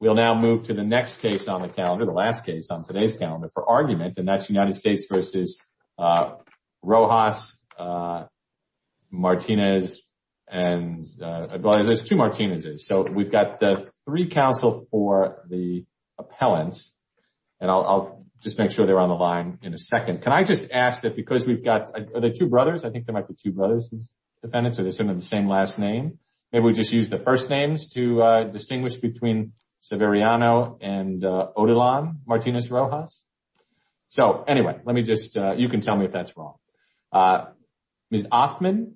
we'll now move to the next case on the calendar the last case on today's calendar for argument and that's united states versus uh rojas uh martinez and uh there's two martinezes so we've got the three counsel for the appellants and i'll just make sure they're on the line in a second can i just ask that because we've got are there two brothers i think there might be two brothers these defendants are the same last name maybe we just use the first names to uh severiano and uh odilon martinez rojas so anyway let me just uh you can tell me if that's wrong uh ms offman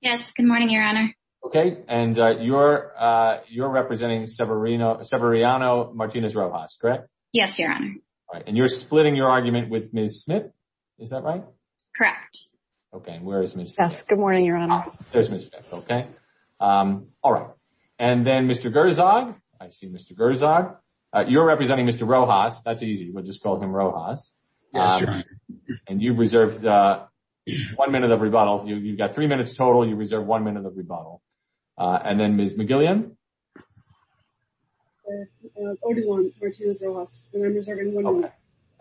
yes good morning your honor okay and uh you're uh you're representing severino severiano martinez rojas correct yes your honor all right and you're splitting your argument with ms smith is that right correct okay where is mrs good morning your honor okay um all right and then mr gerzog i see mr gerzog uh you're representing mr rojas that's easy we'll just call him rojas and you've reserved uh one minute of rebuttal you've got three minutes total you reserve one minute of rebuttal uh and then ms mcgillian and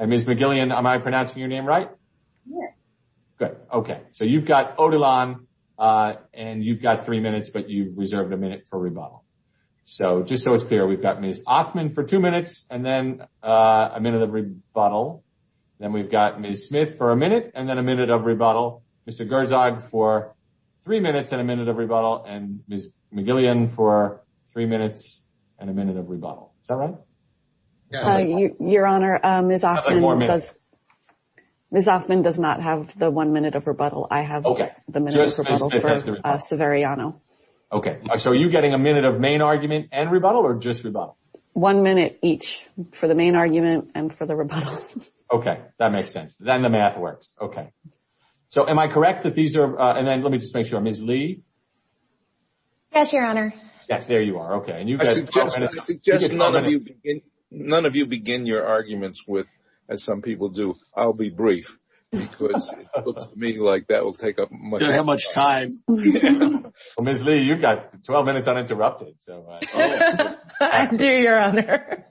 ms mcgillian am i pronouncing your name right yeah good okay so you've got odilon uh and you've got three minutes but you've reserved a minute for rebuttal so just so it's clear we've got ms offman for two minutes and then uh a minute of rebuttal then we've got ms smith for a minute and then a minute of rebuttal mr gerzog for three minutes and a minute of rebuttal and ms mcgillian for three minutes and a minute is that right uh your honor um ms offman does ms offman does not have the one minute of rebuttal i have okay the minute for uh severiano okay so are you getting a minute of main argument and rebuttal or just rebuttal one minute each for the main argument and for the rebuttal okay that makes sense then the math works okay so am i correct that these are uh and then let me just make sure ms lee yes your honor yes there you are okay and you guys just none of you begin none of you begin your arguments with as some people do i'll be brief because it looks to me like that will take up how much time ms lee you've got 12 minutes uninterrupted so i do your honor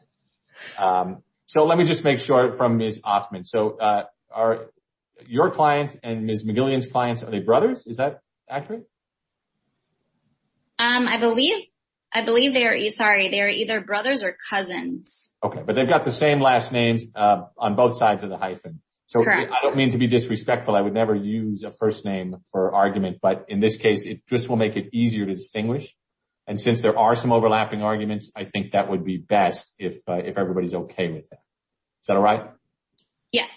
um so let me just make sure from ms offman so uh are your clients and ms mcgillian's clients are they brothers is that accurate um i believe i believe they are sorry they are either brothers or cousins okay but they've got the same last names uh on both sides of the hyphen so i don't mean to be disrespectful i would never use a first name for argument but in this case it just will make it easier to distinguish and since there are some overlapping arguments i think that would be best if if everybody's okay with that is that all right yes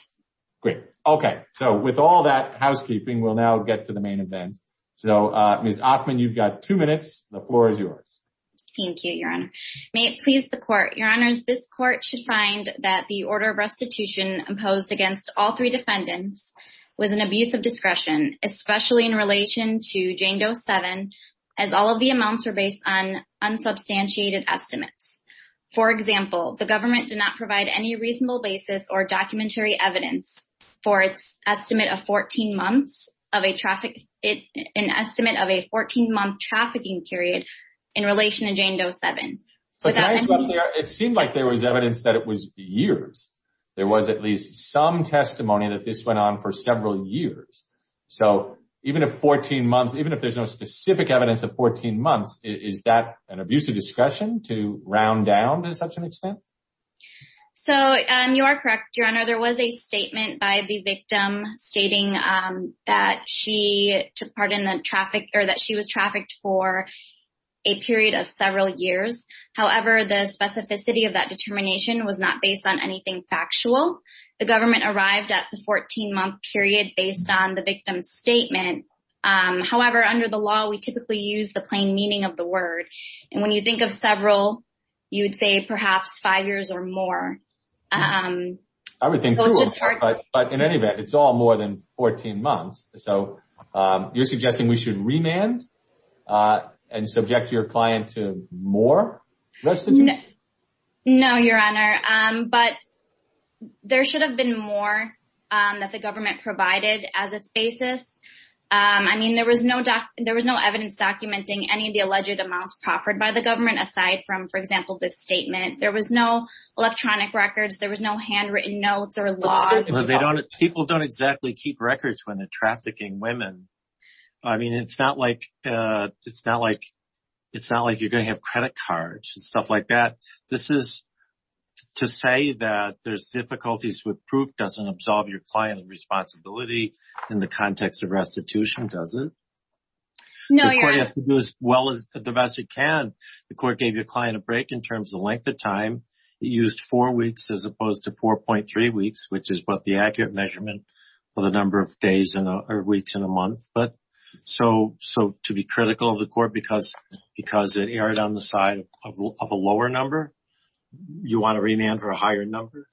great okay so with all that housekeeping we'll now get to the main event so uh ms offman you've got two minutes the floor is yours thank you your honor may it please the court your honors this court should find that the order of restitution imposed against all three defendants was an abuse of discretion especially in relation to jane dose 7 as all of the amounts are based on unsubstantiated estimates for example the government did not provide any reasonable basis or documentary evidence for its estimate of 14 months of a traffic it an estimate of a 14 month trafficking period in relation to jane dose 7 so it seemed like there was evidence that it was years there was at least some testimony that this went on for several years so even if 14 months even if there's no specific evidence of 14 months is that an abuse of discretion to round down to such an extent so um you are correct your honor there was a statement by the victim stating um that she took part in the traffic or that she was trafficked for a period of several years however the specificity of that determination was not based on anything factual the government arrived at the 14 month period based on the victim's statement um however under the law we typically use the plain meaning of the um everything but in any event it's all more than 14 months so um you're suggesting we should remand uh and subject your client to more restitution no your honor um but there should have been more um that the government provided as its basis um i mean there was no doc there was no evidence documenting any of the alleged amounts proffered by the government aside from for example this statement there was no electronic records there was no handwritten notes or laws well they don't people don't exactly keep records when they're trafficking women i mean it's not like uh it's not like it's not like you're going to have credit cards and stuff like that this is to say that there's difficulties with proof doesn't absolve your client of responsibility in the context of restitution does it no you have to do as well as the best you can the court gave your client a break in terms of length of time it used four weeks as opposed to 4.3 weeks which is what the accurate measurement for the number of days and weeks in a month but so so to be critical of the court because because it erred on the side of a lower number you want to remand for a higher number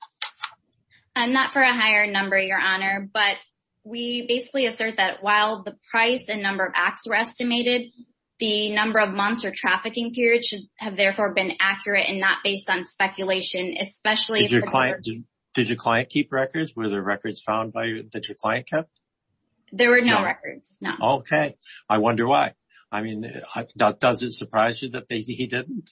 i'm not for a higher number your honor but we basically assert that while the price and number of acts were estimated the number of months or trafficking periods should have therefore been accurate and not based on speculation especially if your client did your client keep records were there records found by that your client kept there were no records no okay i wonder why i mean that doesn't surprise you that he didn't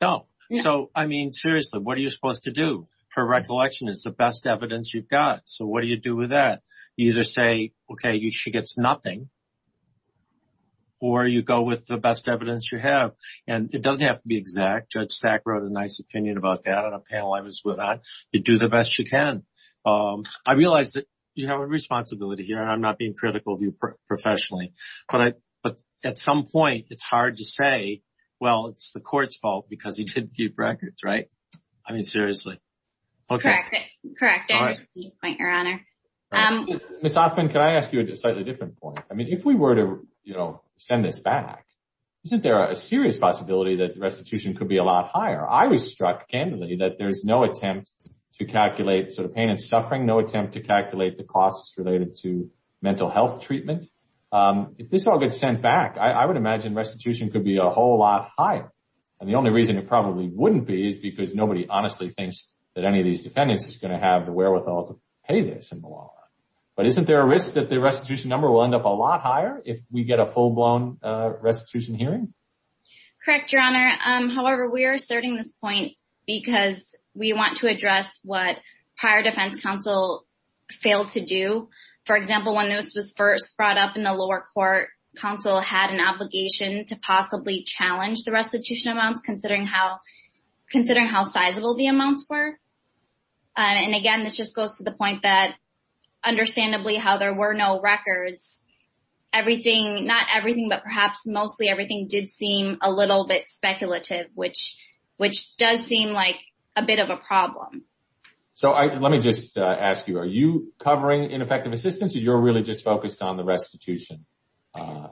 no so i mean seriously what are you supposed to do her recollection is the best evidence you've got so what do you do with that you either say okay you she gets nothing or you go with the best evidence you have and it doesn't have to be exact judge sack wrote a nice opinion about that on a panel i was with on you do the best you can um i realize that you have a responsibility here i'm not being critical of you professionally but i but at some point it's hard to say well it's the court's fault because he didn't keep records right i mean seriously okay correct point your honor um miss often can i ask you a slightly different point i mean if we were to send this back isn't there a serious possibility that restitution could be a lot higher i was struck candidly that there's no attempt to calculate sort of pain and suffering no attempt to calculate the costs related to mental health treatment um if this all gets sent back i would imagine restitution could be a whole lot higher and the only reason it probably wouldn't be is because nobody honestly thinks that any of these defendants is going to have the wherewithal to pay this in the long run but isn't there a risk that the restitution number will end up a lot higher if we get a full-blown uh restitution hearing correct your honor um however we are asserting this point because we want to address what prior defense counsel failed to do for example when this was first brought up in the lower court counsel had an obligation to possibly challenge the restitution amounts considering how considering how sizable the amounts were and again this just goes to the point that understandably how there were no records everything not everything but perhaps mostly everything did seem a little bit speculative which which does seem like a bit of a problem so i let me just uh ask you are you covering ineffective assistance or you're really just focused on the restitution um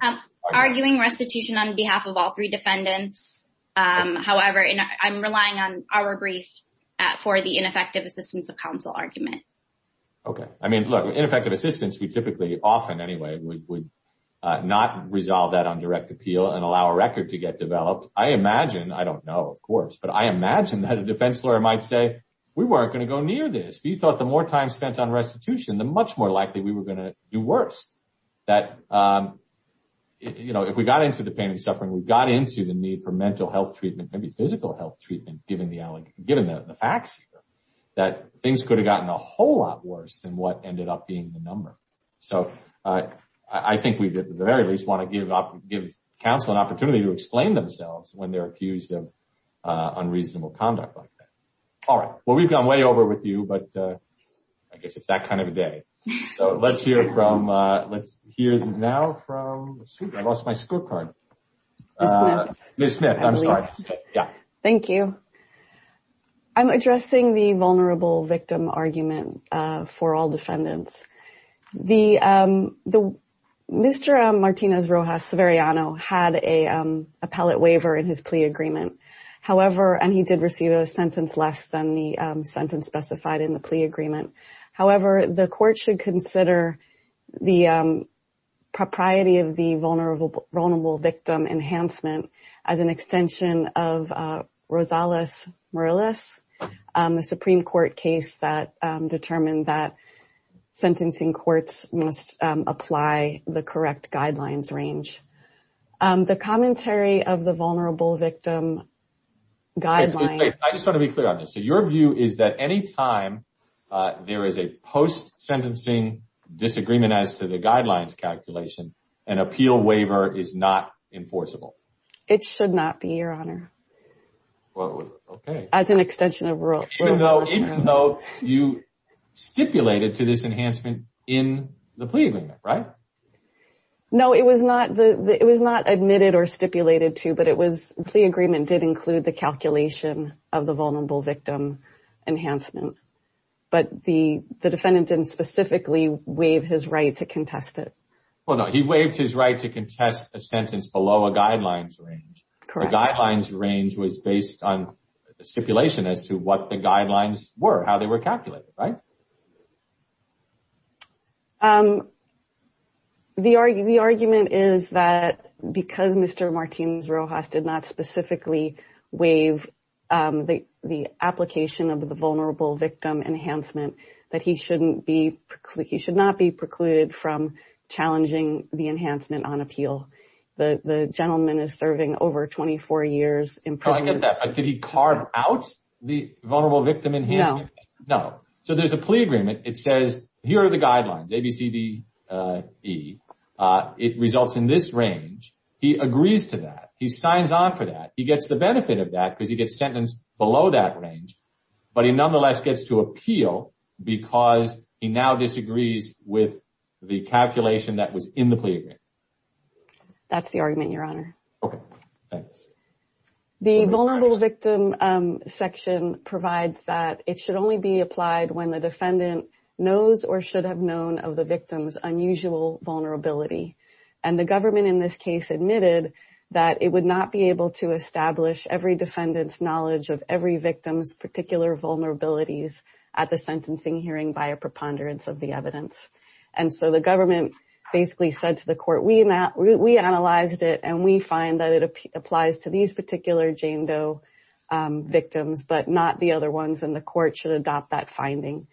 arguing restitution on behalf of all three defendants um however and i'm relying on our brief for the ineffective assistance of counsel argument okay i mean look ineffective assistance we typically often anyway would not resolve that on direct appeal and allow a record to get developed i imagine i don't know of course but i imagine that a defense lawyer might say we weren't going to go near this we thought the more time spent on restitution the much more likely we were going to do worse that um you know if we got into the pain and suffering we got into the need for mental health treatment maybe physical health treatment given the elegant given the facts that things could have gotten a i think we did at the very least want to give up give counsel an opportunity to explain themselves when they're accused of uh unreasonable conduct like that all right well we've gone way over with you but uh i guess it's that kind of a day so let's hear from uh let's hear now from i lost my scorecard uh miss smith i'm sorry yeah thank you i'm addressing the vulnerable victim argument for all defendants the um the mr martinez rojas severiano had a um appellate waiver in his plea agreement however and he did receive a sentence less than the sentence specified in the plea agreement however the court should consider the um propriety of the vulnerable vulnerable victim as an extension of uh rosales morales um the supreme court case that um determined that sentencing courts must apply the correct guidelines range um the commentary of the vulnerable victim guideline i just want to be clear on this so your view is that any time uh there is a post sentencing disagreement as to the guidelines calculation an appeal waiver is not enforceable it should not be your honor well okay as an extension of rule even though even though you stipulated to this enhancement in the plea agreement right no it was not the it was not admitted or stipulated to but it was the agreement did include the calculation of the vulnerable victim enhancement but the the defendant didn't specifically waive his right to contest it well he waived his right to contest a sentence below a guidelines range correct the guidelines range was based on the stipulation as to what the guidelines were how they were calculated right um the argument is that because mr martinez rojas did not specifically waive um the the application of the vulnerable victim enhancement that he shouldn't be he should not be precluded from challenging the enhancement on appeal the the gentleman is serving over 24 years in prison did he carve out the vulnerable victim enhancement no so there's a plea agreement it says here are the guidelines abcde uh it results in this range he agrees to that he signs on for that he gets the benefit of that because he gets sentenced below that range but he nonetheless gets to appeal because he now disagrees with the calculation that was in the plea agreement that's the argument your honor okay thanks the vulnerable victim um section provides that it should only be applied when the defendant knows or should have known of the victim's unusual vulnerability and the government in this case admitted that it would not be able to establish every defendant's knowledge of every victim's particular vulnerabilities at the sentencing hearing by a preponderance of the evidence and so the government basically said to the court we not we analyzed it and we find that it applies to these particular jane doe victims but not the other ones and the court should adopt that finding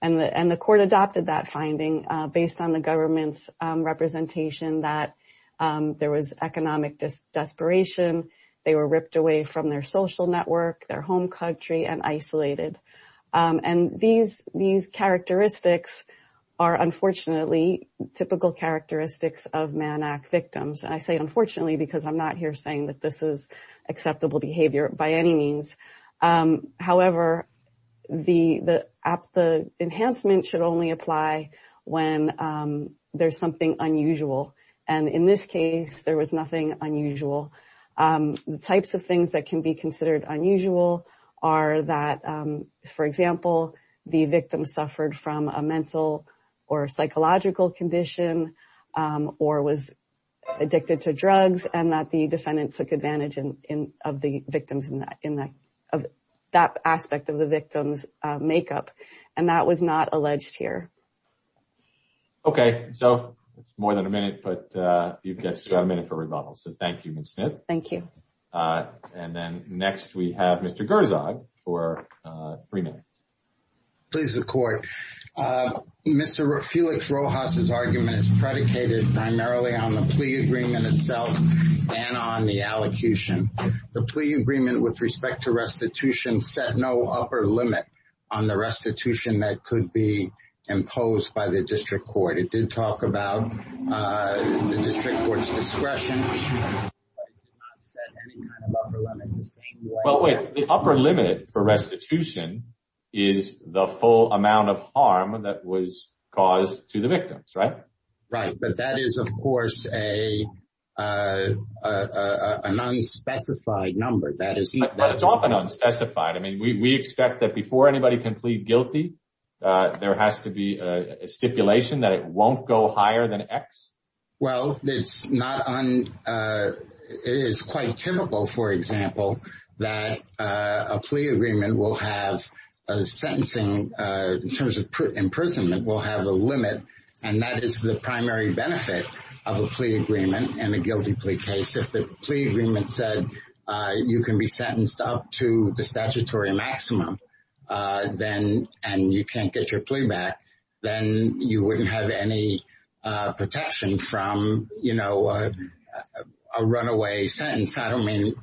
and the and the court adopted that finding uh based on the government's representation that um there was economic desperation they were ripped away from their social network their home country and isolated and these these characteristics are unfortunately typical characteristics of mannac victims and i say unfortunately because i'm not here saying that this is acceptable behavior by any means um however the the app the enhancement should only apply when um there's something unusual and in this case there was nothing unusual um the types of things that can be considered unusual are that um for example the victim suffered from a mental or psychological condition or was addicted to drugs and that the defendant took advantage in in of the victims in that in that of that aspect of the victim's makeup and that was not alleged here okay so it's more than a minute but uh you've got a minute for rebuttal so thank you miss smith thank you uh and then next we have mr gerzog for uh three minutes please the court uh mr felix rojas's argument is predicated primarily on the plea agreement itself and on the allocution the plea agreement with respect to restitution set no upper limit on the restitution that could be imposed by the the district court's discretion but it's not set any kind of upper limit the same way well wait the upper limit for restitution is the full amount of harm that was caused to the victims right right but that is of course a uh uh an unspecified number that is but it's often unspecified i mean we we expect that before anybody can plead guilty uh there has to be a stipulation that it won't go higher than x well it's not on uh it is quite typical for example that uh a plea agreement will have a sentencing uh in terms of imprisonment will have a limit and that is the primary benefit of a plea agreement in a guilty plea case if the plea agreement said uh you can be sentenced up to the statutory maximum uh then and you can't get your plea back then you wouldn't have any uh protection from you know a runaway sentence i don't mean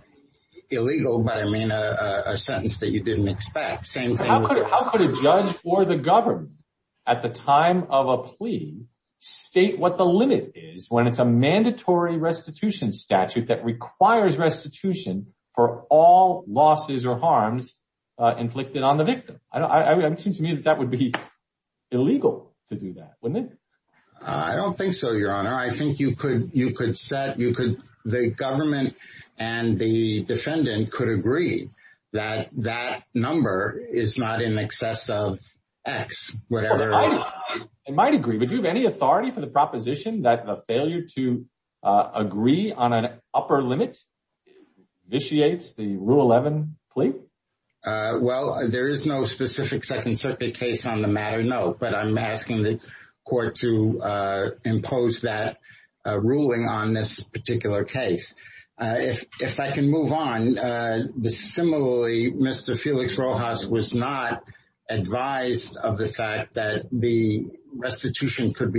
illegal but i mean a a sentence that you didn't expect same thing how could a judge or the government at the time of a plea state what the limit is when it's a mandatory restitution statute that requires restitution for all losses or harms uh inflicted on the victim i don't seem to me that that would be illegal to do that wouldn't it i don't think so your honor i think you could you could set you could the government and the defendant could agree that that number is not in excess of x whatever it might agree would you have any authority for the proposition that the failure to uh agree on an upper limit vitiates the rule 11 plea uh well there is no specific second circuit case on the matter no but i'm asking the court to uh impose that uh ruling on this particular case uh if if i can move on uh the similarly mr felix rojas was not advised of the fact that the restitution could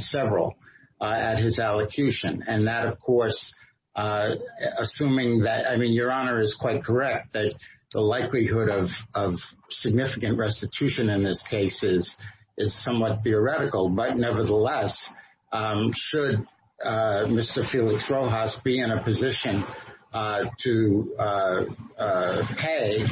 several uh at his allocution and that of course uh assuming that i mean your honor is quite correct that the likelihood of of significant restitution in this case is is somewhat theoretical but nevertheless um should uh mr felix rojas be in a position uh to uh uh pay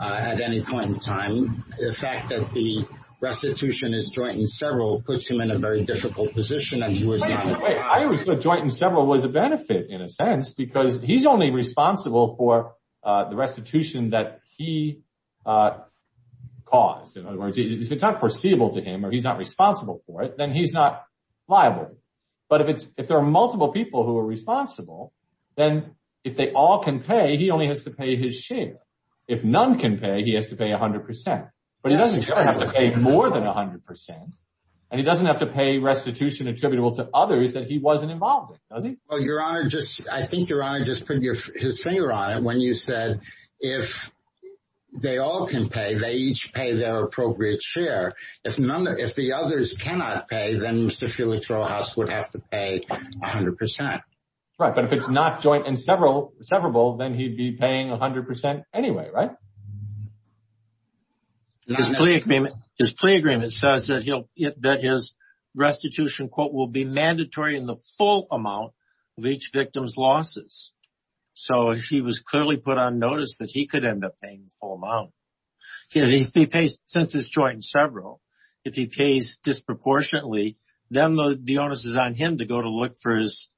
uh at any point in time the fact that the restitution is joint in several puts him in a very difficult position and he was not wait i would put joint in several was a benefit in a sense because he's only responsible for uh the restitution that he uh caused in other words if it's not foreseeable to him or he's not responsible for it then he's not liable but if it's if there are multiple people who are responsible then if they all can pay he only has to pay his share if none can pay he has to pay a hundred percent but he doesn't have to pay more than a hundred percent and he doesn't have to pay restitution attributable to others that he wasn't involved in does he well your honor just i think your honor just put your his finger on it when you said if they all can pay they each pay their appropriate share if none if the others cannot pay then mr felix rojas would have to pay a hundred percent right but if it's not joint and several severable then he'd be paying a hundred percent anyway right his plea agreement his plea agreement says that he'll that his restitution quote will be mandatory in the full amount of each victim's losses so he was clearly put on notice that he could end up paying the full amount he pays since his joint in several if he pays disproportionately then the the onus is on him to go to look for his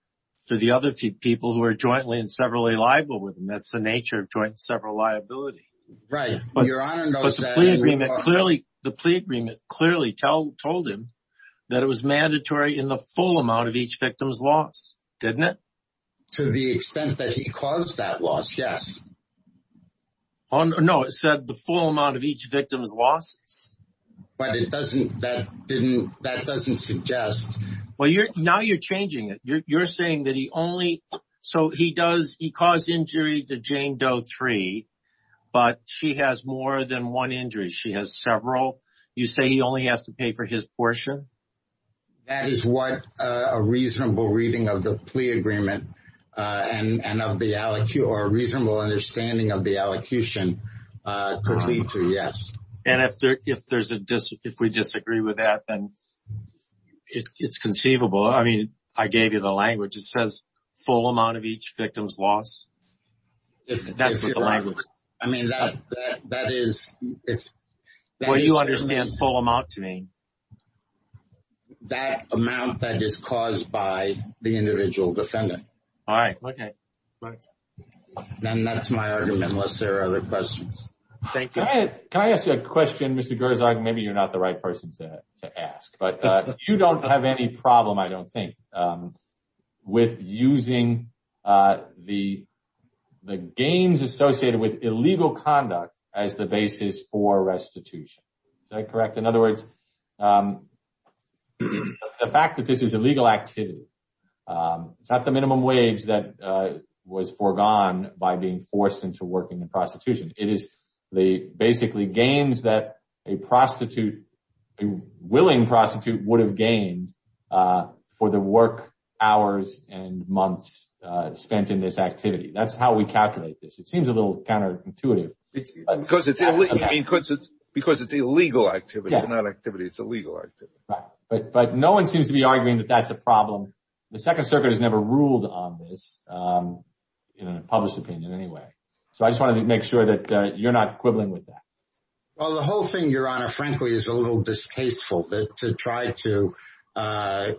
for the other people who are in several liable with him that's the nature of joint several liability right but your honor the plea agreement clearly told him that it was mandatory in the full amount of each victim's loss didn't it to the extent that he caused that loss yes on no it said the full amount of each victim's losses but it doesn't that didn't that doesn't suggest well you're now you're changing it you're saying that he only so he does he caused injury to jane doe three but she has more than one injury she has several you say he only has to pay for his portion that is what uh a reasonable reading of the plea agreement uh and and of the aliquot or a reasonable understanding of the allocution uh completely yes and if there if there's a dis if we disagree with that then it's conceivable i mean i gave you the language it says full amount of each victim's loss that's what the language i mean that that that is it's where you understand full amount to me that amount that is caused by the individual defendant all right okay right then that's my argument unless there are other questions thank you can i ask you a question mr gerzog maybe you're not the right person to to ask but uh you don't have any problem i don't think um with using uh the the gains associated with illegal conduct as the basis for restitution is that correct in other words um the fact that this is illegal activity um it's not the minimum wage that uh was foregone by being forced into working in prostitution it is the basically gains that a prostitute a willing prostitute would have gained uh for the work hours and months uh spent in this activity that's how we calculate this it seems a little counterintuitive because it's because it's because it's illegal activity it's not activity it's illegal activity right but but no one seems to be arguing that that's a problem the second circuit has never ruled on this um in a published opinion anyway so i just wanted to make sure that you're not quibbling with that well the whole thing your honor frankly is a little distasteful that to try to uh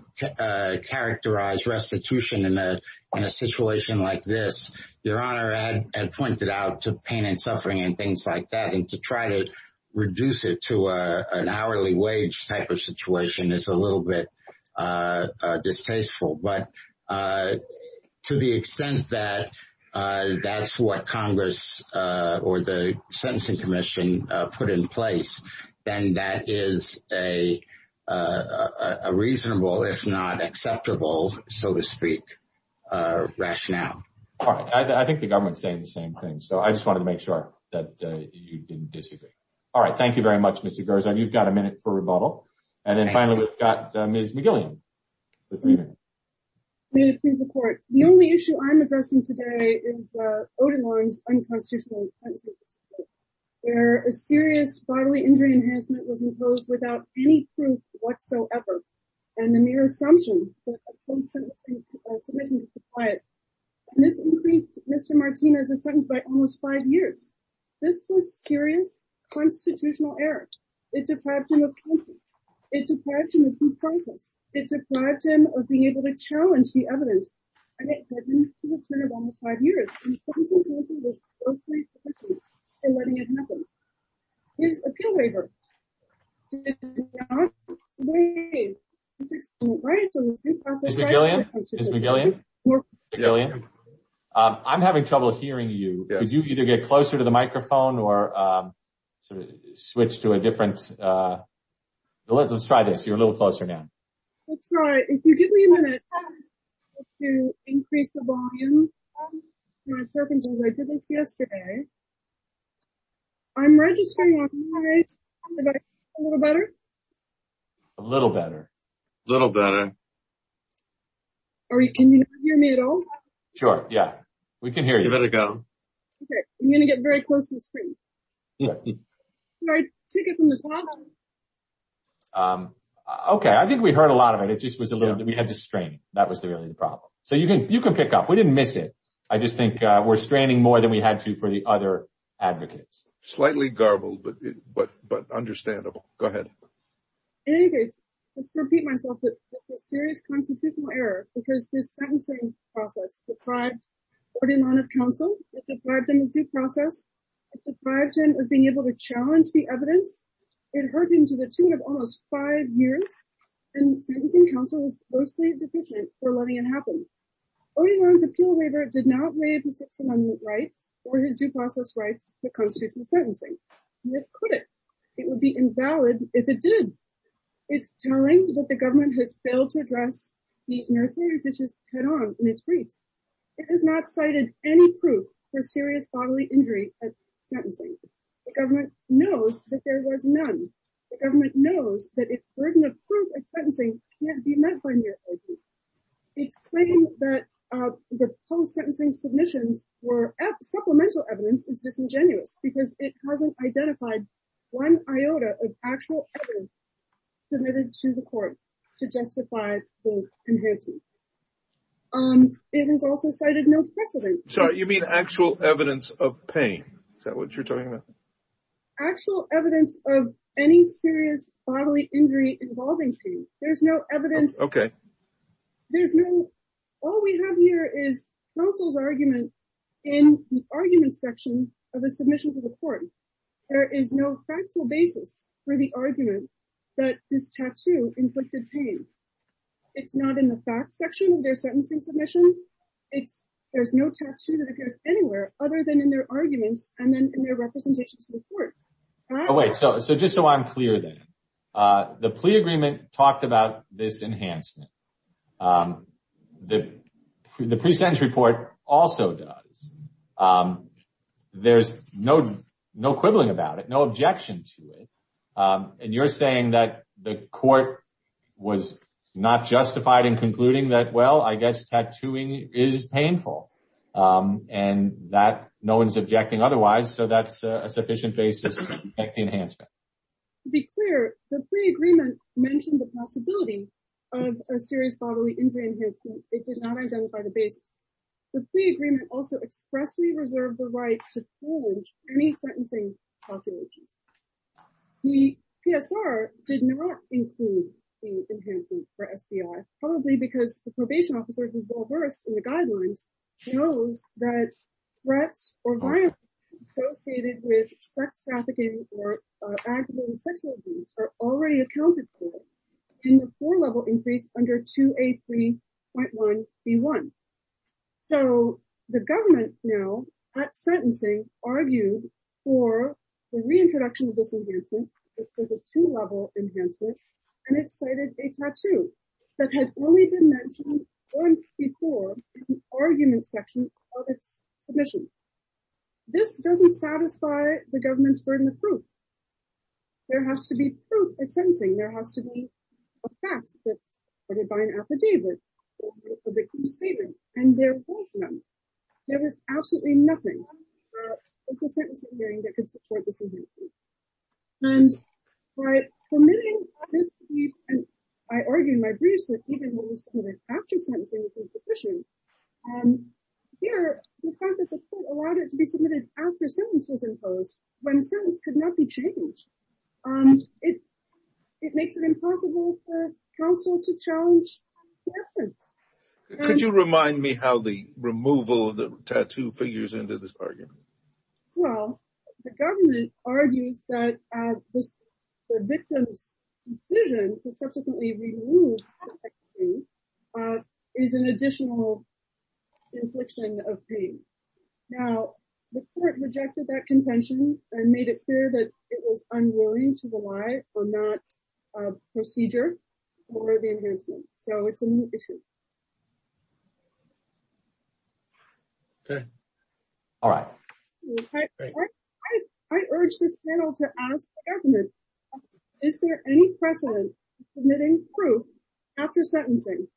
characterize restitution in a in a situation like this your honor had pointed out to pain and suffering and things like that and to try to reduce it to a an hourly wage type of situation is a little bit uh distasteful but uh to the extent that uh that's what congress uh or the sentencing commission uh put in place then that is a uh a reasonable if not acceptable so to speak uh rationale all right i think the government's saying the same thing so i just wanted to make sure that you didn't disagree all right thank you very much mr gerson you've got a minute for rebuttal and then finally we've got uh ms mcgillian we need to please support the only issue i'm addressing today is uh odin's unconstitutional where a serious bodily injury enhancement was imposed without any proof whatsoever and the mere assumption this increased mr martinez's sentence by almost five years this was serious constitutional error it deprived him of it deprived him of due process it deprived him of being able to challenge the evidence almost five years and letting it happen his appeal waiver um i'm having trouble hearing you because you either get closer to the microphone or um switch to a different uh let's try this you're a little closer now let's try if you give me a minute to increase the volume my purpose is i did this yesterday i'm registering a little better a little better a little better or you can you not hear me at all sure yeah we can hear you better go okay i'm gonna get very close to the screen yeah right check it from the top um okay i think we heard a lot of it it just was a little bit we had to strain that was the really the problem so you can you can pick up we didn't miss it i just think uh we're straining more than we had to for the other advocates slightly garbled but but but understandable go ahead anyways let's repeat myself that it's a serious constitutional error because this sentencing process deprived him of counsel it deprived him of due process it deprived him of being able to challenge the evidence it hurt him to the tune of almost five years and sentencing counsel was closely deficient for letting it happen odin's appeal waiver did not waive the six amendment rights or his due process rights for constitutional sentencing it couldn't it would be invalid if it did it's telling that the government has failed to address these necessary issues head-on in its it has not cited any proof for serious bodily injury at sentencing the government knows that there was none the government knows that its burden of proof at sentencing can't be met by it's claiming that uh the post-sentencing submissions were supplemental evidence is disingenuous because it hasn't identified one iota of actual evidence submitted to the court to justify the enhancement um it has also cited no precedent so you mean actual evidence of pain is that what you're talking about actual evidence of any serious bodily injury involving pain there's no evidence okay there's no all we have here is counsel's argument in the argument section of the submission to the court there is no factual basis for the argument that this tattoo inflicted pain it's not in the fact section of their sentencing submission it's there's no tattoo that appears anywhere other than in their arguments and then in their representations to the court oh wait so so just so i'm clear then uh the plea agreement talked about this enhancement um the the pre-sentence report also does um there's no no quibbling about it no objection to um and you're saying that the court was not justified in concluding that well i guess tattooing is painful um and that no one's objecting otherwise so that's a sufficient basis to protect the enhancement to be clear the plea agreement mentioned the possibility of a serious bodily injury it did not identify the basis the plea agreement also expressly the right to any sentencing populations the psr did not include the enhancement for spi probably because the probation officer who's well versed in the guidelines knows that threats or violence associated with sex trafficking or active sexual abuse are already accounted for in the four-level increase under 2a 3.1 b1 so the government now at sentencing argued for the reintroduction of this enhancement it was a two-level enhancement and it cited a tattoo that has only been mentioned once before in the argument section of its submission this doesn't satisfy the government's burden of proof there has to be proof at sentencing there has to be a fact that's supported by an affidavit a statement and there was none there was absolutely nothing uh with the sentencing hearing that could support this and by permitting this and by arguing my briefs that even when we submitted after sentencing um here the fact that the court allowed it to be submitted after sentence was imposed when a sentence could not be changed um it it makes it impossible for counsel to challenge could you remind me how the removal of the tattoo figures into this argument well the government argues that the victim's decision to subsequently remove is an additional infliction of pain now the court rejected that contention and made it clear that it was unwary to rely or not uh procedure for the enhancement so it's a new issue okay all right i i urge this panel to ask the government is there any precedent submitting proof after sentencing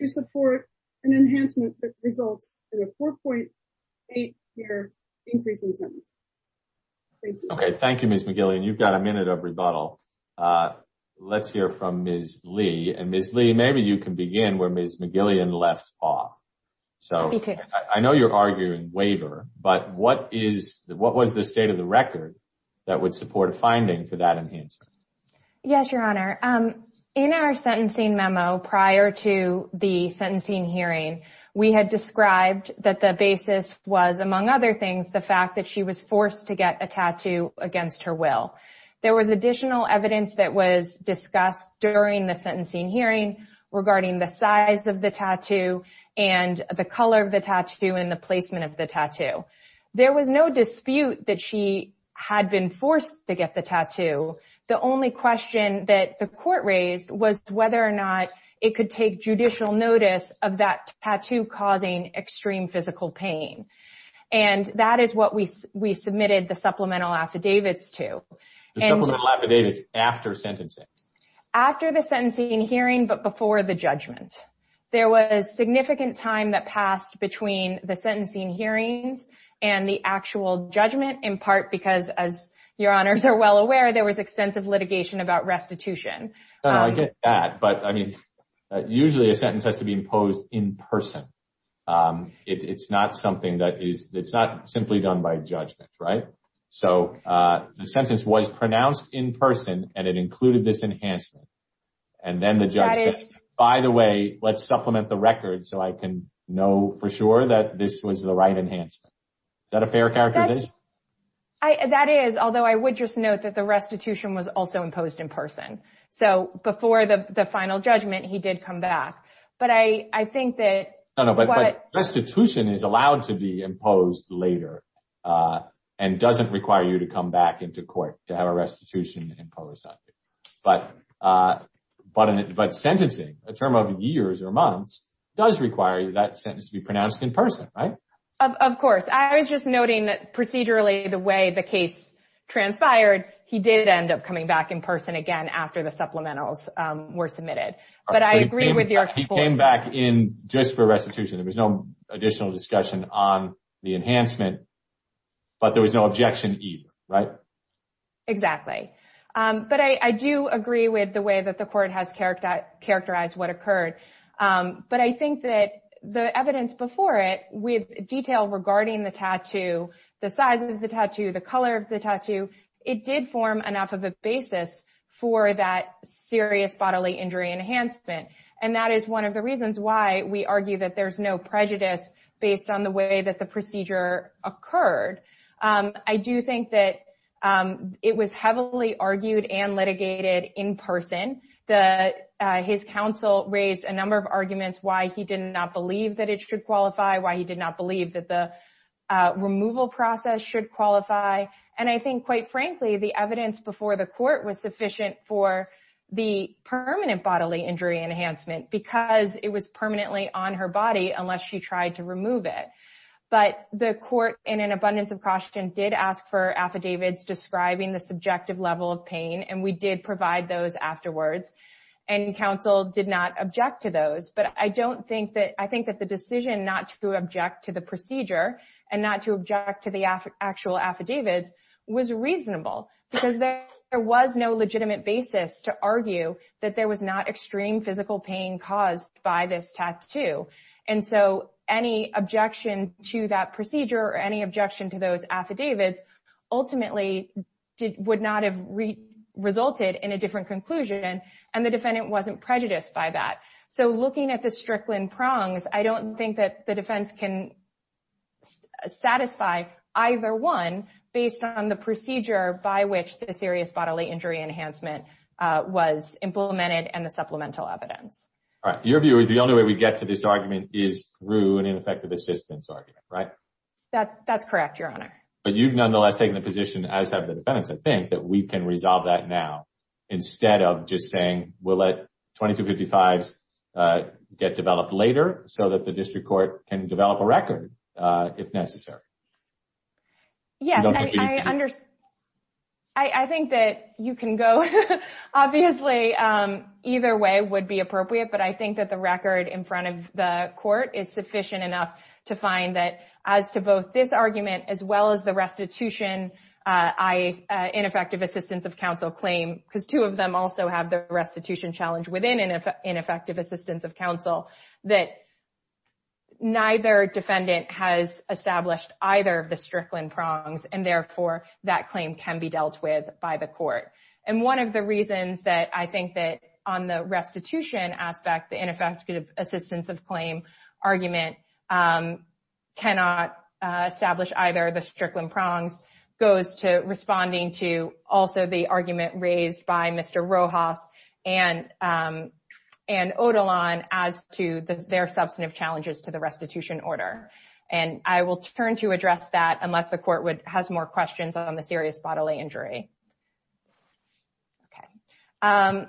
to support an enhancement that results in a 4.8 year increase in sentence okay thank you ms mcgillian you've got a minute of rebuttal uh let's hear from ms lee and ms lee maybe you can begin where ms mcgillian left off so i know you're arguing waiver but what is what was the state of the record that would support a finding for that answer yes your honor um in our sentencing memo prior to the sentencing hearing we had described that the basis was among other things the fact that she was forced to get a tattoo against her will there was additional evidence that was discussed during the sentencing hearing regarding the size of the tattoo and the color of the tattoo and the placement of the tattoo there was no dispute that she had been forced to get the tattoo the only question that the court raised was whether or not it could take judicial notice of that tattoo causing extreme physical pain and that is what we we submitted the supplemental affidavits to the supplemental affidavits after sentencing after the sentencing hearing but before the judgment there was significant time that passed between the sentencing hearings and the actual judgment in part because as your honors are well aware there was extensive litigation about restitution i get that but i mean usually a sentence has to be imposed in person um it's not something that is it's not simply done by judgment right so uh the sentence was pronounced in person and it included this enhancement and then the this was the right enhancement is that a fair character that's i that is although i would just note that the restitution was also imposed in person so before the the final judgment he did come back but i i think that no no but restitution is allowed to be imposed later uh and doesn't require you to come back into court to have a restitution imposed on you but uh but but sentencing a term of years or months does require that sentence to be pronounced in person right of course i was just noting that procedurally the way the case transpired he did end up coming back in person again after the supplementals um were submitted but i agree with you he came back in just for restitution there was no additional discussion on the enhancement but there was no objection either right exactly um but i i do agree with the way that the court has characterized what occurred um but i think that the evidence before it with detail regarding the tattoo the size of the tattoo the color of the tattoo it did form enough of a basis for that serious bodily injury enhancement and that is one of the reasons why we argue that there's no prejudice based on the way that the procedure occurred um i do think that um it was heavily argued and litigated in person the his counsel raised a number of arguments why he did not believe that it should qualify why he did not believe that the removal process should qualify and i think quite frankly the evidence before the court was sufficient for the permanent bodily injury enhancement because it was permanently on her body unless she tried to remove it but the court in an abundance of caution did ask for affidavits describing the subjective level of pain and we did provide those afterwards and counsel did not object to those but i don't think that i think that the decision not to object to the procedure and not to object to the actual affidavits was reasonable because there was no legitimate basis to argue that there was not objection to that procedure or any objection to those affidavits ultimately would not have resulted in a different conclusion and the defendant wasn't prejudiced by that so looking at the strickland prongs i don't think that the defense can satisfy either one based on the procedure by which the serious bodily injury enhancement was implemented and the supplemental evidence all right your view is the only way we get to this argument is through an ineffective assistance argument right that that's correct your honor but you've nonetheless taken the position as have the defendants i think that we can resolve that now instead of just saying we'll let 2255s get developed later so that the district court can develop a record uh if necessary yeah i understand i i think that you can go obviously either way would be appropriate but i think that the record in front of the court is sufficient enough to find that as to both this argument as well as the restitution uh i ineffective assistance of counsel claim because two of them also have the restitution challenge within an effective assistance of counsel that neither defendant has established either of the strickland prongs and on the restitution aspect the ineffective assistance of claim argument um cannot establish either the strickland prongs goes to responding to also the argument raised by mr rojas and um and odalon as to their substantive challenges to the restitution order and i will turn to address that unless the court would has more questions on the serious bodily injury okay um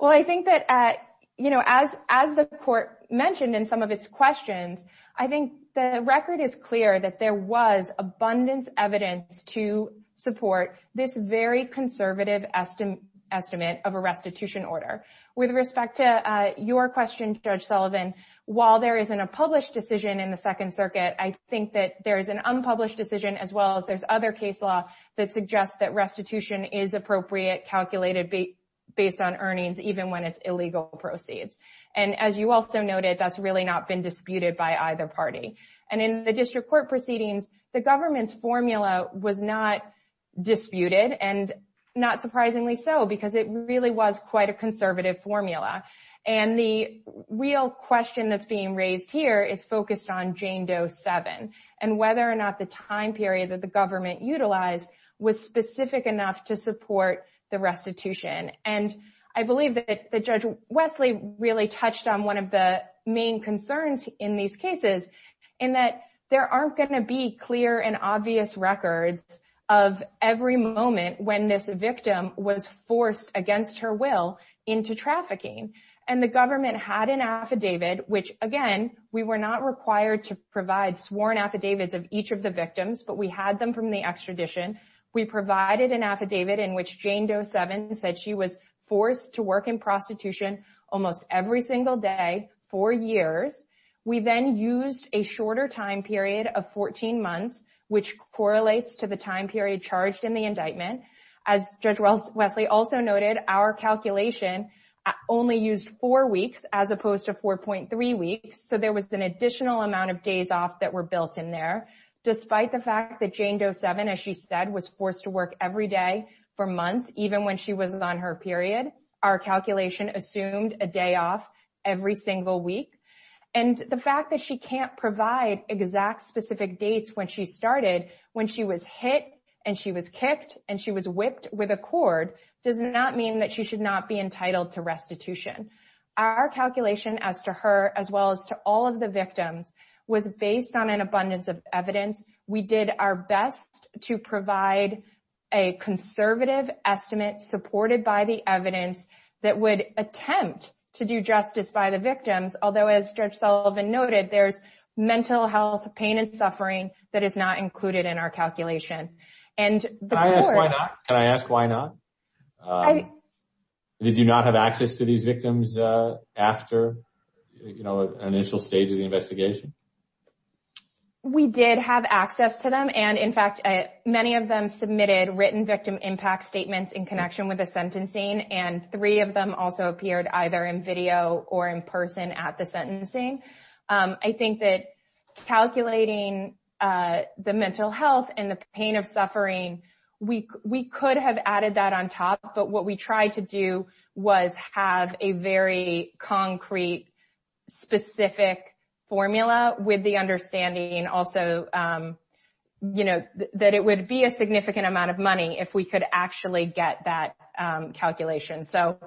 well i think that uh you know as as the court mentioned in some of its questions i think the record is clear that there was abundance evidence to support this very conservative estimate estimate of a restitution order with respect to uh your question judge sullivan while there isn't a published decision in the second circuit i think that there is an that suggests that restitution is appropriate calculated based on earnings even when it's illegal proceeds and as you also noted that's really not been disputed by either party and in the district court proceedings the government's formula was not disputed and not surprisingly so because it really was quite a conservative formula and the real question that's being raised here is whether or not the time period that the government utilized was specific enough to support the restitution and i believe that the judge wesley really touched on one of the main concerns in these cases in that there aren't going to be clear and obvious records of every moment when this victim was forced against her will into trafficking and the government had an affidavit which again we were required to provide sworn affidavits of each of the victims but we had them from the extradition we provided an affidavit in which jane doe seven said she was forced to work in prostitution almost every single day for years we then used a shorter time period of 14 months which correlates to the time period charged in the indictment as judge wesley also noted our calculation only used four weeks so there was an additional amount of days off that were built in there despite the fact that jane doe seven as she said was forced to work every day for months even when she was on her period our calculation assumed a day off every single week and the fact that she can't provide exact specific dates when she started when she was hit and she was kicked and she was whipped with a as well as to all of the victims was based on an abundance of evidence we did our best to provide a conservative estimate supported by the evidence that would attempt to do justice by the victims although as judge sullivan noted there's mental health pain and suffering that is not included in our calculation and why not can i ask why not i did you not have access to these victims uh after you know an initial stage of the investigation we did have access to them and in fact many of them submitted written victim impact statements in connection with the sentencing and three of them also appeared either in video or in person at the sentencing i think that calculating uh the mental health and the pain of suffering we we could have added that on top but what we tried to do was have a very concrete specific formula with the understanding also you know that it would be a significant amount of money if we could actually get that calculation so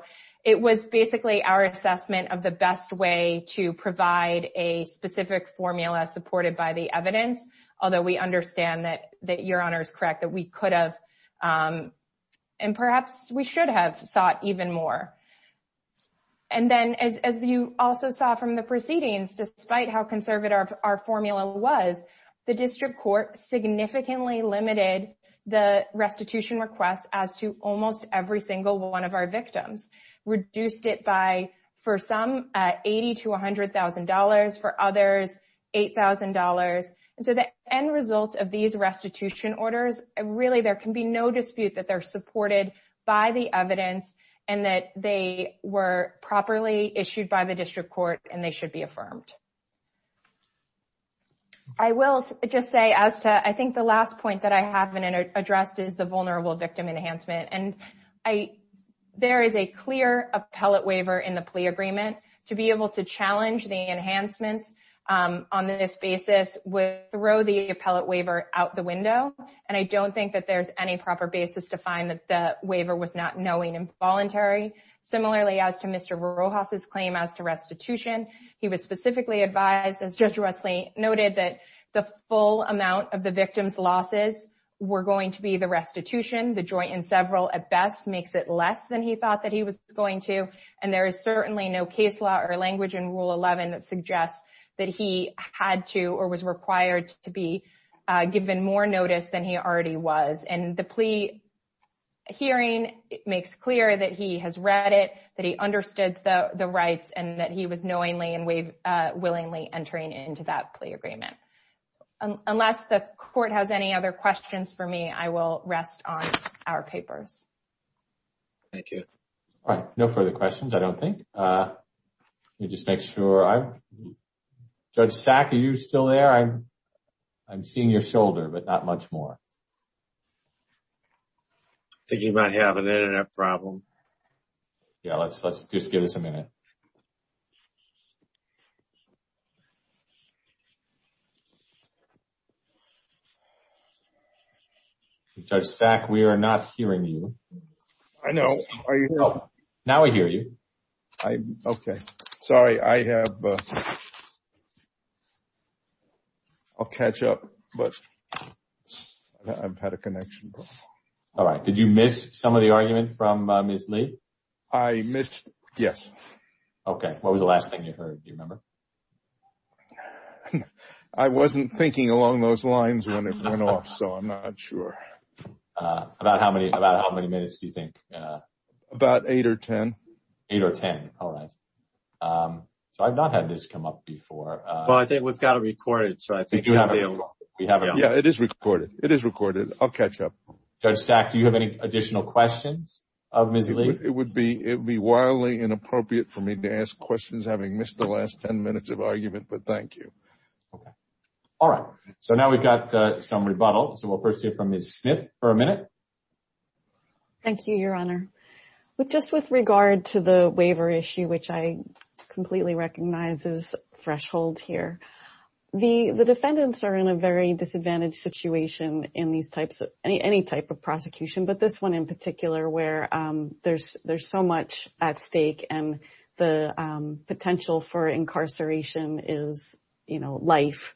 it was basically our assessment of the best way to provide a specific formula supported by the evidence although we understand that that your honor is correct that we could have um and perhaps we should have sought even more and then as you also saw from the proceedings despite how conservative our formula was the district court significantly limited the restitution requests as to almost every single one of our victims reduced it by for some uh eighty to a hundred thousand dollars for others eight thousand dollars and so the end result of these restitution orders really there can be no dispute that they're supported by the evidence and that they were properly issued by the district court and they should be affirmed i will just say as to i think the last point that i haven't addressed is the vulnerable victim enhancement and i there is a clear appellate waiver in the plea agreement to be able to challenge the and i don't think that there's any proper basis to find that the waiver was not knowing involuntary similarly as to mr rojas's claim as to restitution he was specifically advised as judge russley noted that the full amount of the victim's losses were going to be the restitution the joint and several at best makes it less than he thought that he was going to and there is certainly no case law or language in rule 11 that suggests that he had to or was required to be given more notice than he already was and the plea hearing it makes clear that he has read it that he understood the the rights and that he was knowingly and we've uh willingly entering into that plea agreement unless the court has any other questions for me i will rest on our papers thank you all right no further questions i don't think uh let me just make sure i judge sack are you still there i'm i'm seeing your shoulder but not much more thinking about having an internet problem yeah let's let's just give us a minute judge sack we are not hearing you i know are you now i hear you i'm okay sorry i have i'll catch up but i've had a connection all right did you miss some of the argument from uh ms lee i missed yes okay what was the last thing you heard do you remember i wasn't thinking along those lines when it went off so i'm not sure uh about how many about how many minutes do you think uh about eight or ten eight or ten all right um so i've not had this come up before uh well i think we've got it recorded so i think we have it yeah it is recorded it is recorded i'll catch up judge sack do you have any additional questions of ms lee it would be it would be wildly inappropriate for me to ask questions having missed the last 10 minutes of argument but thank you okay all right so now we've got some rebuttal so we'll first hear from ms smith for a minute thank you your honor with just with regard to the waiver issue which i completely recognize is threshold here the the defendants are in a very disadvantaged situation in these types of any any type of prosecution but this one in particular where um there's there's so much at stake and the um potential for incarceration is you know life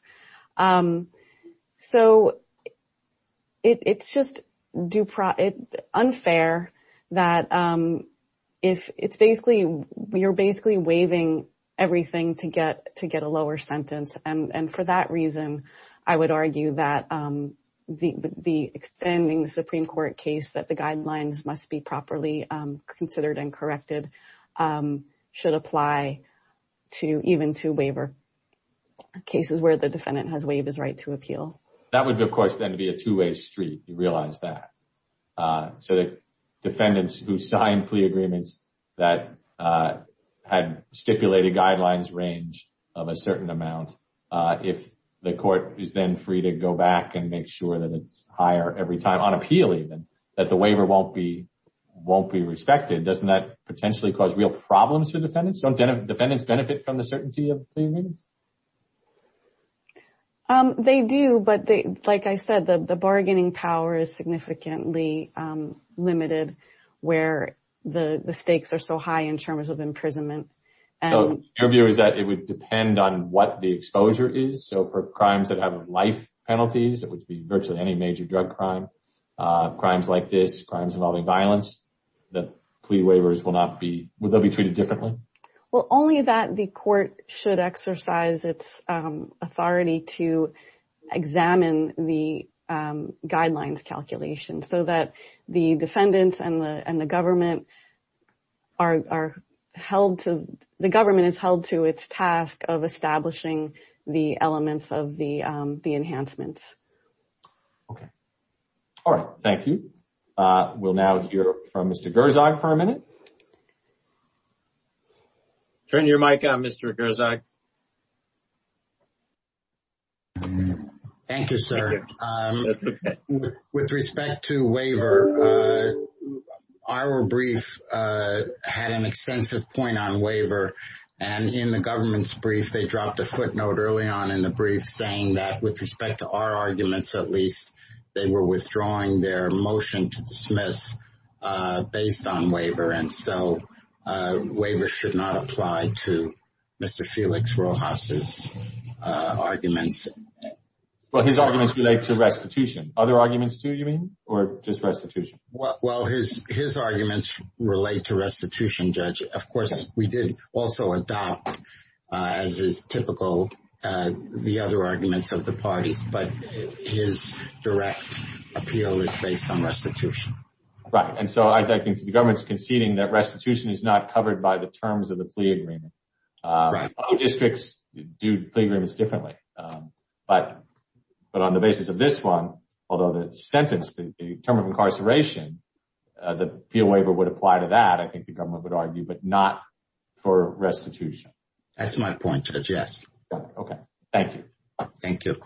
um so it it's just do pro it unfair that um if it's basically you're basically waiving everything to get to get a lower sentence and and for that reason i would argue that um the the extending the supreme court case that the guidelines must be properly considered and that would of course then be a two-way street you realize that uh so the defendants who signed plea agreements that uh had stipulated guidelines range of a certain amount uh if the court is then free to go back and make sure that it's higher every time on appeal even that the waiver won't be won't be respected doesn't that potentially cause real problems for defendants don't defendants benefit from the certainty of pleading um they do but they like i said the the bargaining power is significantly um limited where the the stakes are so high in terms of imprisonment and your view is that it would depend on what the exposure is so for crimes that have life penalties it would be virtually any major drug crime uh crimes like this crimes involving violence that plea waivers will not be they'll be treated differently well only that the court should exercise its um authority to examine the um guidelines calculation so that the defendants and the and the government are are held to the government is held to its task of establishing the elements of the um the enhancements okay all right thank you uh we'll now hear from mr gerzog for a minute turn your mic on mr gerzog thank you sir um with respect to waiver uh our brief uh had an extensive point on waiver and in the government's brief they dropped a footnote early on in the brief saying that with respect to our arguments at least they were withdrawing their motion to dismiss uh based on waiver and so uh waiver should not apply to mr felix rowhouse's uh arguments well his arguments relate to restitution other arguments too you mean or just restitution well his his arguments relate to restitution judge of course we did also adopt uh as is typical uh the other arguments of the parties but his direct appeal is based on restitution right and so i think the government's conceding that restitution is not covered by the terms of the plea agreement uh districts do play agreements differently um but but on the basis of this one although the sentence the term of incarceration uh the appeal waiver would apply to that i think the government would argue but not for restitution that's my point judge yes okay thank you thank you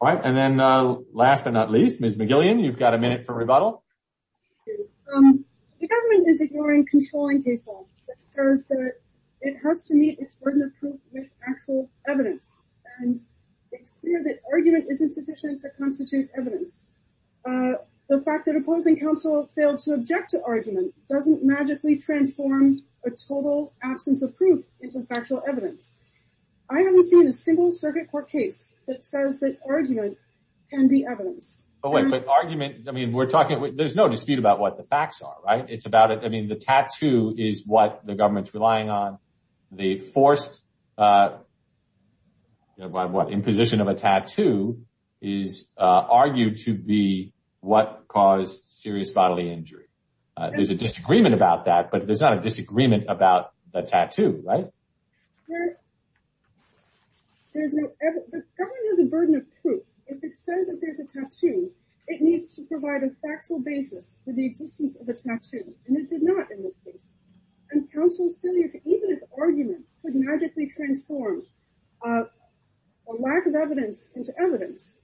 all right and then uh last but not least ms mcgillian you've got a minute for rebuttal the government is ignoring controlling case law that says that it has to meet its burden of proof evidence and it's clear that argument is insufficient to constitute evidence uh the fact that opposing counsel failed to object to argument doesn't magically transform a total absence of proof into factual evidence i haven't seen a single circuit court case that says that argument can be evidence but wait but argument i mean we're talking there's no dispute about what the facts are right it's about it i mean the tattoo is what the government's relying on the forced uh you know by what imposition of a tattoo is uh argued to be what caused serious bodily injury there's a disagreement about that but there's not a disagreement about the tattoo right there's no the government has a burden of proof if it says that there's a tattoo it needs to provide a factual basis for the existence of the tattoo and it did not in this and counsel's failure to even if argument could magically transform uh a lack of evidence into evidence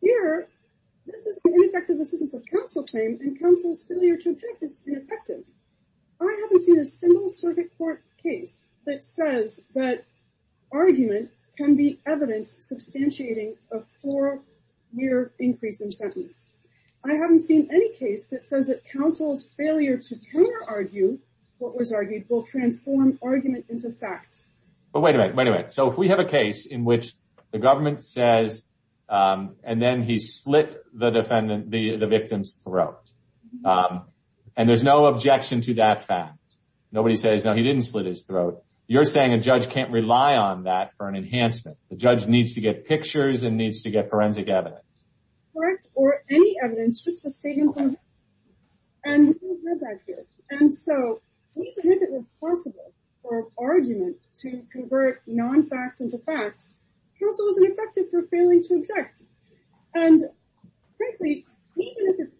here this is an ineffective assistance of counsel claim and counsel's failure to object is ineffective i haven't seen a single circuit court case that says that argument can be evidence substantiating a four year increase in sentence i haven't seen any case that says that counsel's argue what was argued will transform argument into fact but wait a minute wait a minute so if we have a case in which the government says um and then he slit the defendant the the victim's throat and there's no objection to that fact nobody says no he didn't slit his throat you're saying a judge can't rely on that for an enhancement the judge needs to get pictures and needs to get forensic evidence correct or any evidence just to save him and we've heard that here and so even if it was possible for argument to convert non-facts into facts counsel wasn't affected for failing to object and frankly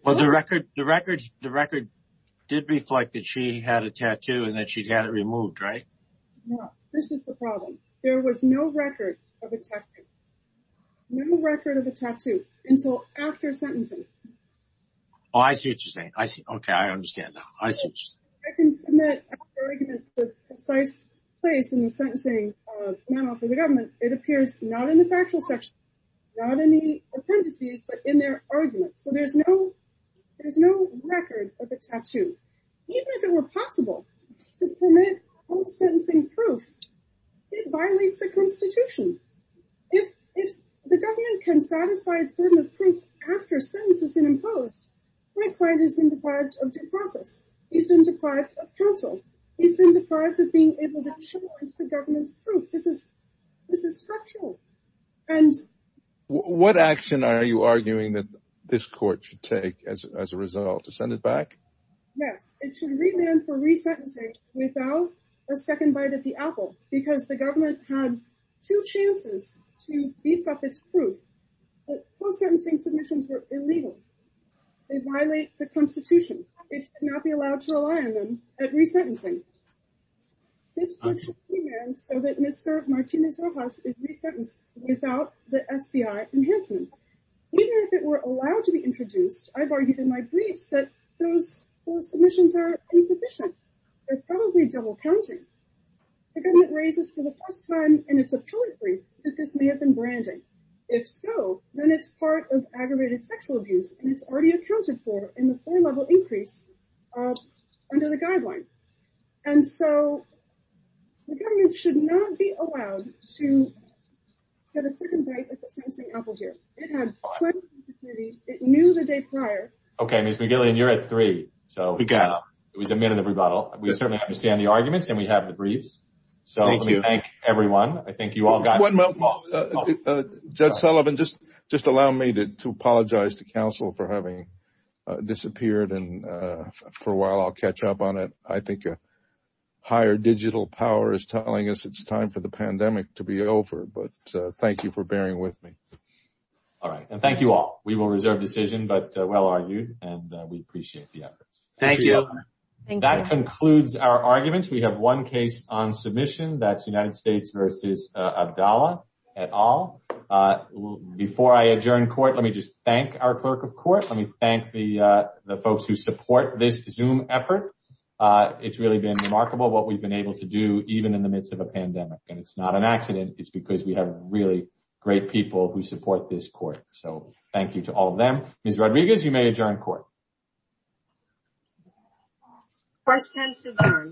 well the record the record the record did reflect that she had a tattoo and that she'd had it removed right no this is the problem there was no record of a tattoo no record of a tattoo and so after sentencing oh i see what you're saying i see okay i understand i see i can submit the precise place in the sentencing of the government it appears not in the factual section not in the parentheses but in their arguments so there's no there's no record of a tattoo even if it were possible to permit home sentencing proof it violates the constitution if if the government can satisfy its burden of proof after sentence has been imposed my client has been deprived of due process he's been deprived of counsel he's been deprived of being able to challenge the government's proof this is this is structural and what action are you arguing that this court should take as a result to send it back yes it should remand for resentencing without a second bite at the apple because the government had two chances to beef up its proof but post-sentencing submissions were illegal they violate the constitution it should not be allowed to rely on them at resentencing this question demands so that mr martinez rojas is resentenced without the spi enhancement even if it were allowed to be introduced i've argued in my briefs that those submissions are insufficient they're probably double counting the government raises for the first time in its appellate brief that this may have been branding if so then it's part of aggravated sexual abuse and it's already accounted for in the four level increase under the guideline and so the government should not be allowed to get a second bite here it had it knew the day prior okay miss mcgillian you're at three so we got it was a minute of rebuttal we certainly understand the arguments and we have the briefs so let me thank everyone i think you all got one judge sullivan just just allow me to apologize to council for having uh disappeared and uh for a while i'll catch up on it i think a higher digital power is telling us it's time for the pandemic to be over but thank you for bearing with me all right and thank you all we will reserve decision but well argued and we appreciate the efforts thank you that concludes our arguments we have one case on submission that's united states versus abdallah et al uh before i adjourn court let me just thank our clerk of court let me thank the uh the folks who support this zoom effort uh it's really been remarkable what we've been able to do even in the midst of a pandemic and it's not an accident it's because we have really great people who support this court so thank you to all of them miss rodriguez you may adjourn court questions